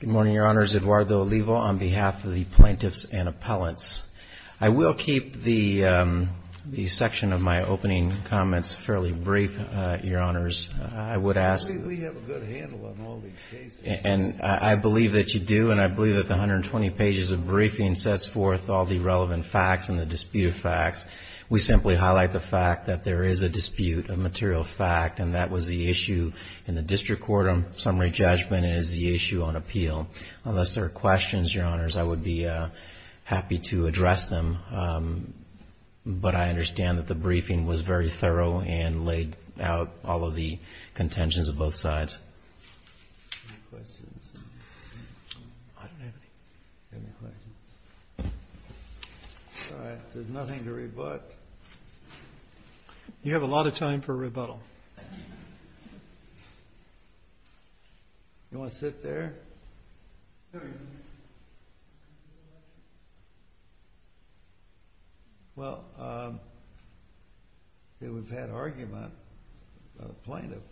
Good morning, Your Honors. Eduardo Olivo on behalf of the Plaintiffs and Appellants. I will keep the section of my opening comments fairly brief, Your Honors. We have a good handle on all these cases. I believe that you do, and I believe that the 120 pages of briefing sets forth all the relevant facts and the disputed facts. We simply highlight the fact that there is a dispute of material fact, and that was the issue in the district court on summary judgment and is the issue on appeal. Unless there are questions, Your Honors, I would be happy to address them, but I understand that the briefing was very thorough and laid out all of the contentions of both sides. Any questions? I don't have any. All right. There's nothing to rebut. You have a lot of time for rebuttal. You want to sit there? Well, we've had argument about a plaintiff.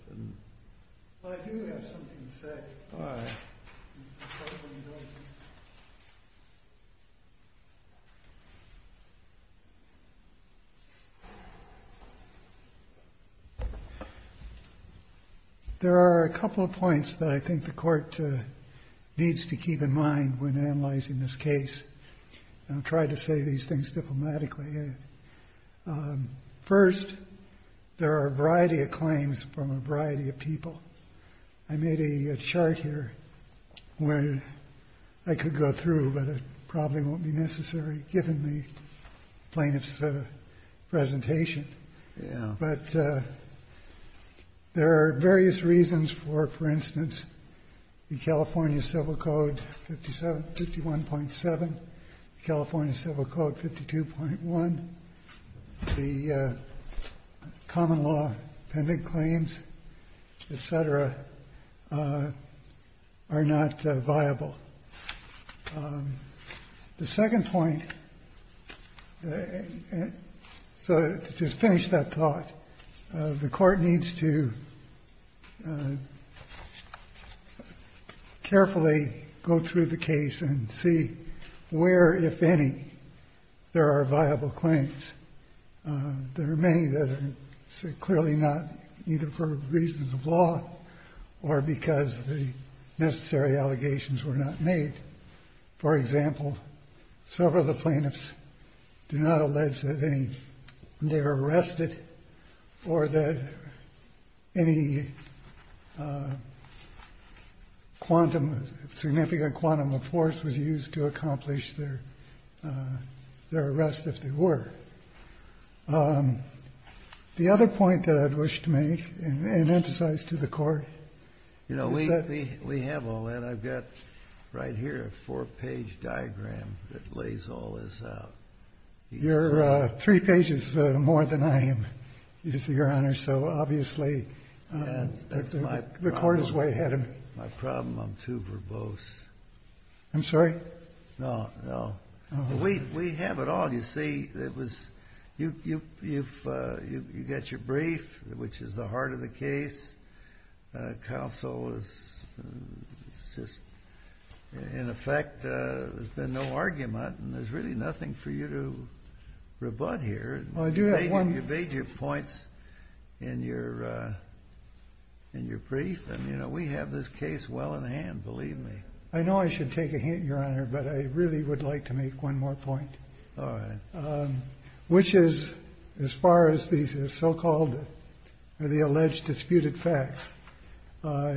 Well, I do have something to say. All right. There are a couple of points that I think the Court needs to keep in mind when analyzing this case. I'll try to say these things diplomatically. First, there are a variety of claims from a variety of people. I made a chart here where I could go through, but it probably won't be necessary given the plaintiff's presentation. But there are various reasons for, for instance, the California Civil Code 51.7, California Civil Code 52.1, the common law pending claims, et cetera, are not viable. The second point, so to finish that thought, the Court needs to carefully go through the case and see where, if any, there are viable claims. There are many that are clearly not, either for reasons of law or because the necessary allegations were not made. For example, several of the plaintiffs do not allege that they are arrested or that any quantum, significant quantum of force was used to accomplish their arrest if they were. The other point that I'd wish to make and emphasize to the Court is that we have all that. I've got right here a four-page diagram that lays all this out. You're three pages more than I am, Your Honor, so obviously the Court is way ahead of me. My problem, I'm too verbose. I'm sorry? No, no. We have it all, you see. You've got your brief, which is the heart of the case. Counsel has just, in effect, there's been no argument, and there's really nothing for you to rebut here. You've made your points in your brief, and, you know, we have this case well in hand, believe me. I know I should take a hint, Your Honor, but I really would like to make one more point. All right. Which is, as far as these so-called or the alleged disputed facts,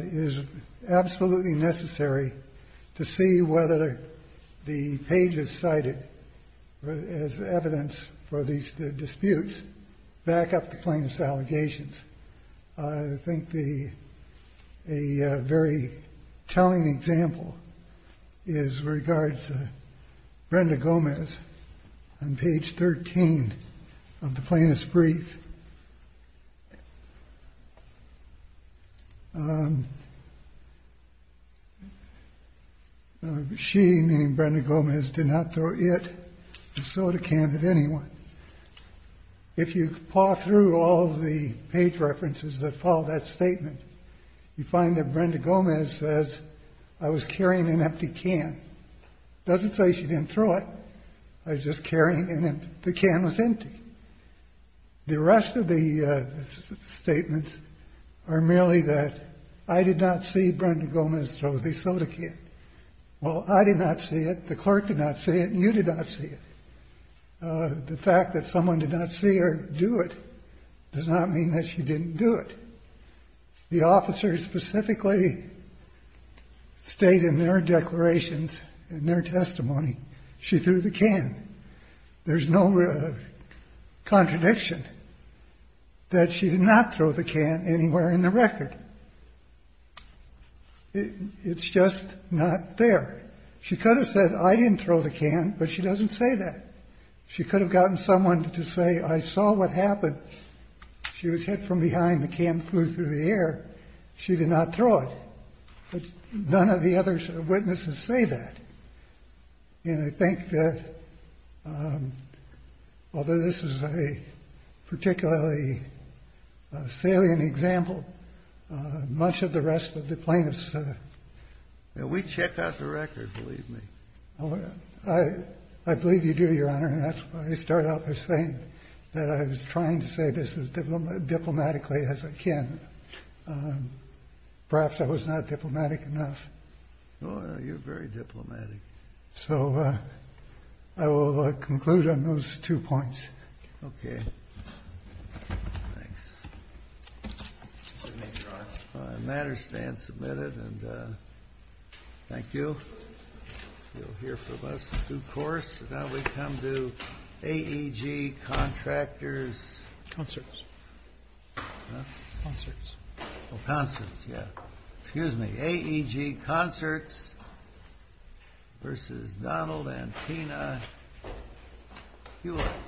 is absolutely necessary to see whether the pages cited as evidence for these disputes back up the plaintiff's allegations. I think a very telling example is with regards to Brenda Gomez on page 13 of the plaintiff's brief. She, named Brenda Gomez, did not throw it in the soda can at anyone. If you paw through all of the page references that follow that statement, you find that Brenda Gomez says, I was carrying an empty can. Doesn't say she didn't throw it. I was just carrying an empty can. The can was empty. The rest of the statements are merely that I did not see Brenda Gomez throw the soda can. Well, I did not see it, the clerk did not see it, and you did not see it. The fact that someone did not see her do it does not mean that she didn't do it. The officers specifically state in their declarations, in their testimony, she threw the can. There's no contradiction that she did not throw the can anywhere in the record. It's just not there. She could have said, I didn't throw the can, but she doesn't say that. She could have gotten someone to say, I saw what happened. She was hit from behind. The can flew through the air. She did not throw it. But none of the other witnesses say that. And I think that, although this is a particularly salient example, much of the rest of the plaintiffs. And we checked out the record, believe me. I believe you do, Your Honor. And that's why I started out by saying that I was trying to say this as diplomatically as I can. Perhaps I was not diplomatic enough. Oh, you're very diplomatic. So I will conclude on those two points. Okay. Thanks. Good night, Your Honor. The matter stands submitted. And thank you. You'll hear from us in due course. Now we come to AEG Contractors. Concerts. Huh? Concerts. Oh, concerts, yeah. Excuse me. AEG Concerts versus Donald and Tina Hewitt.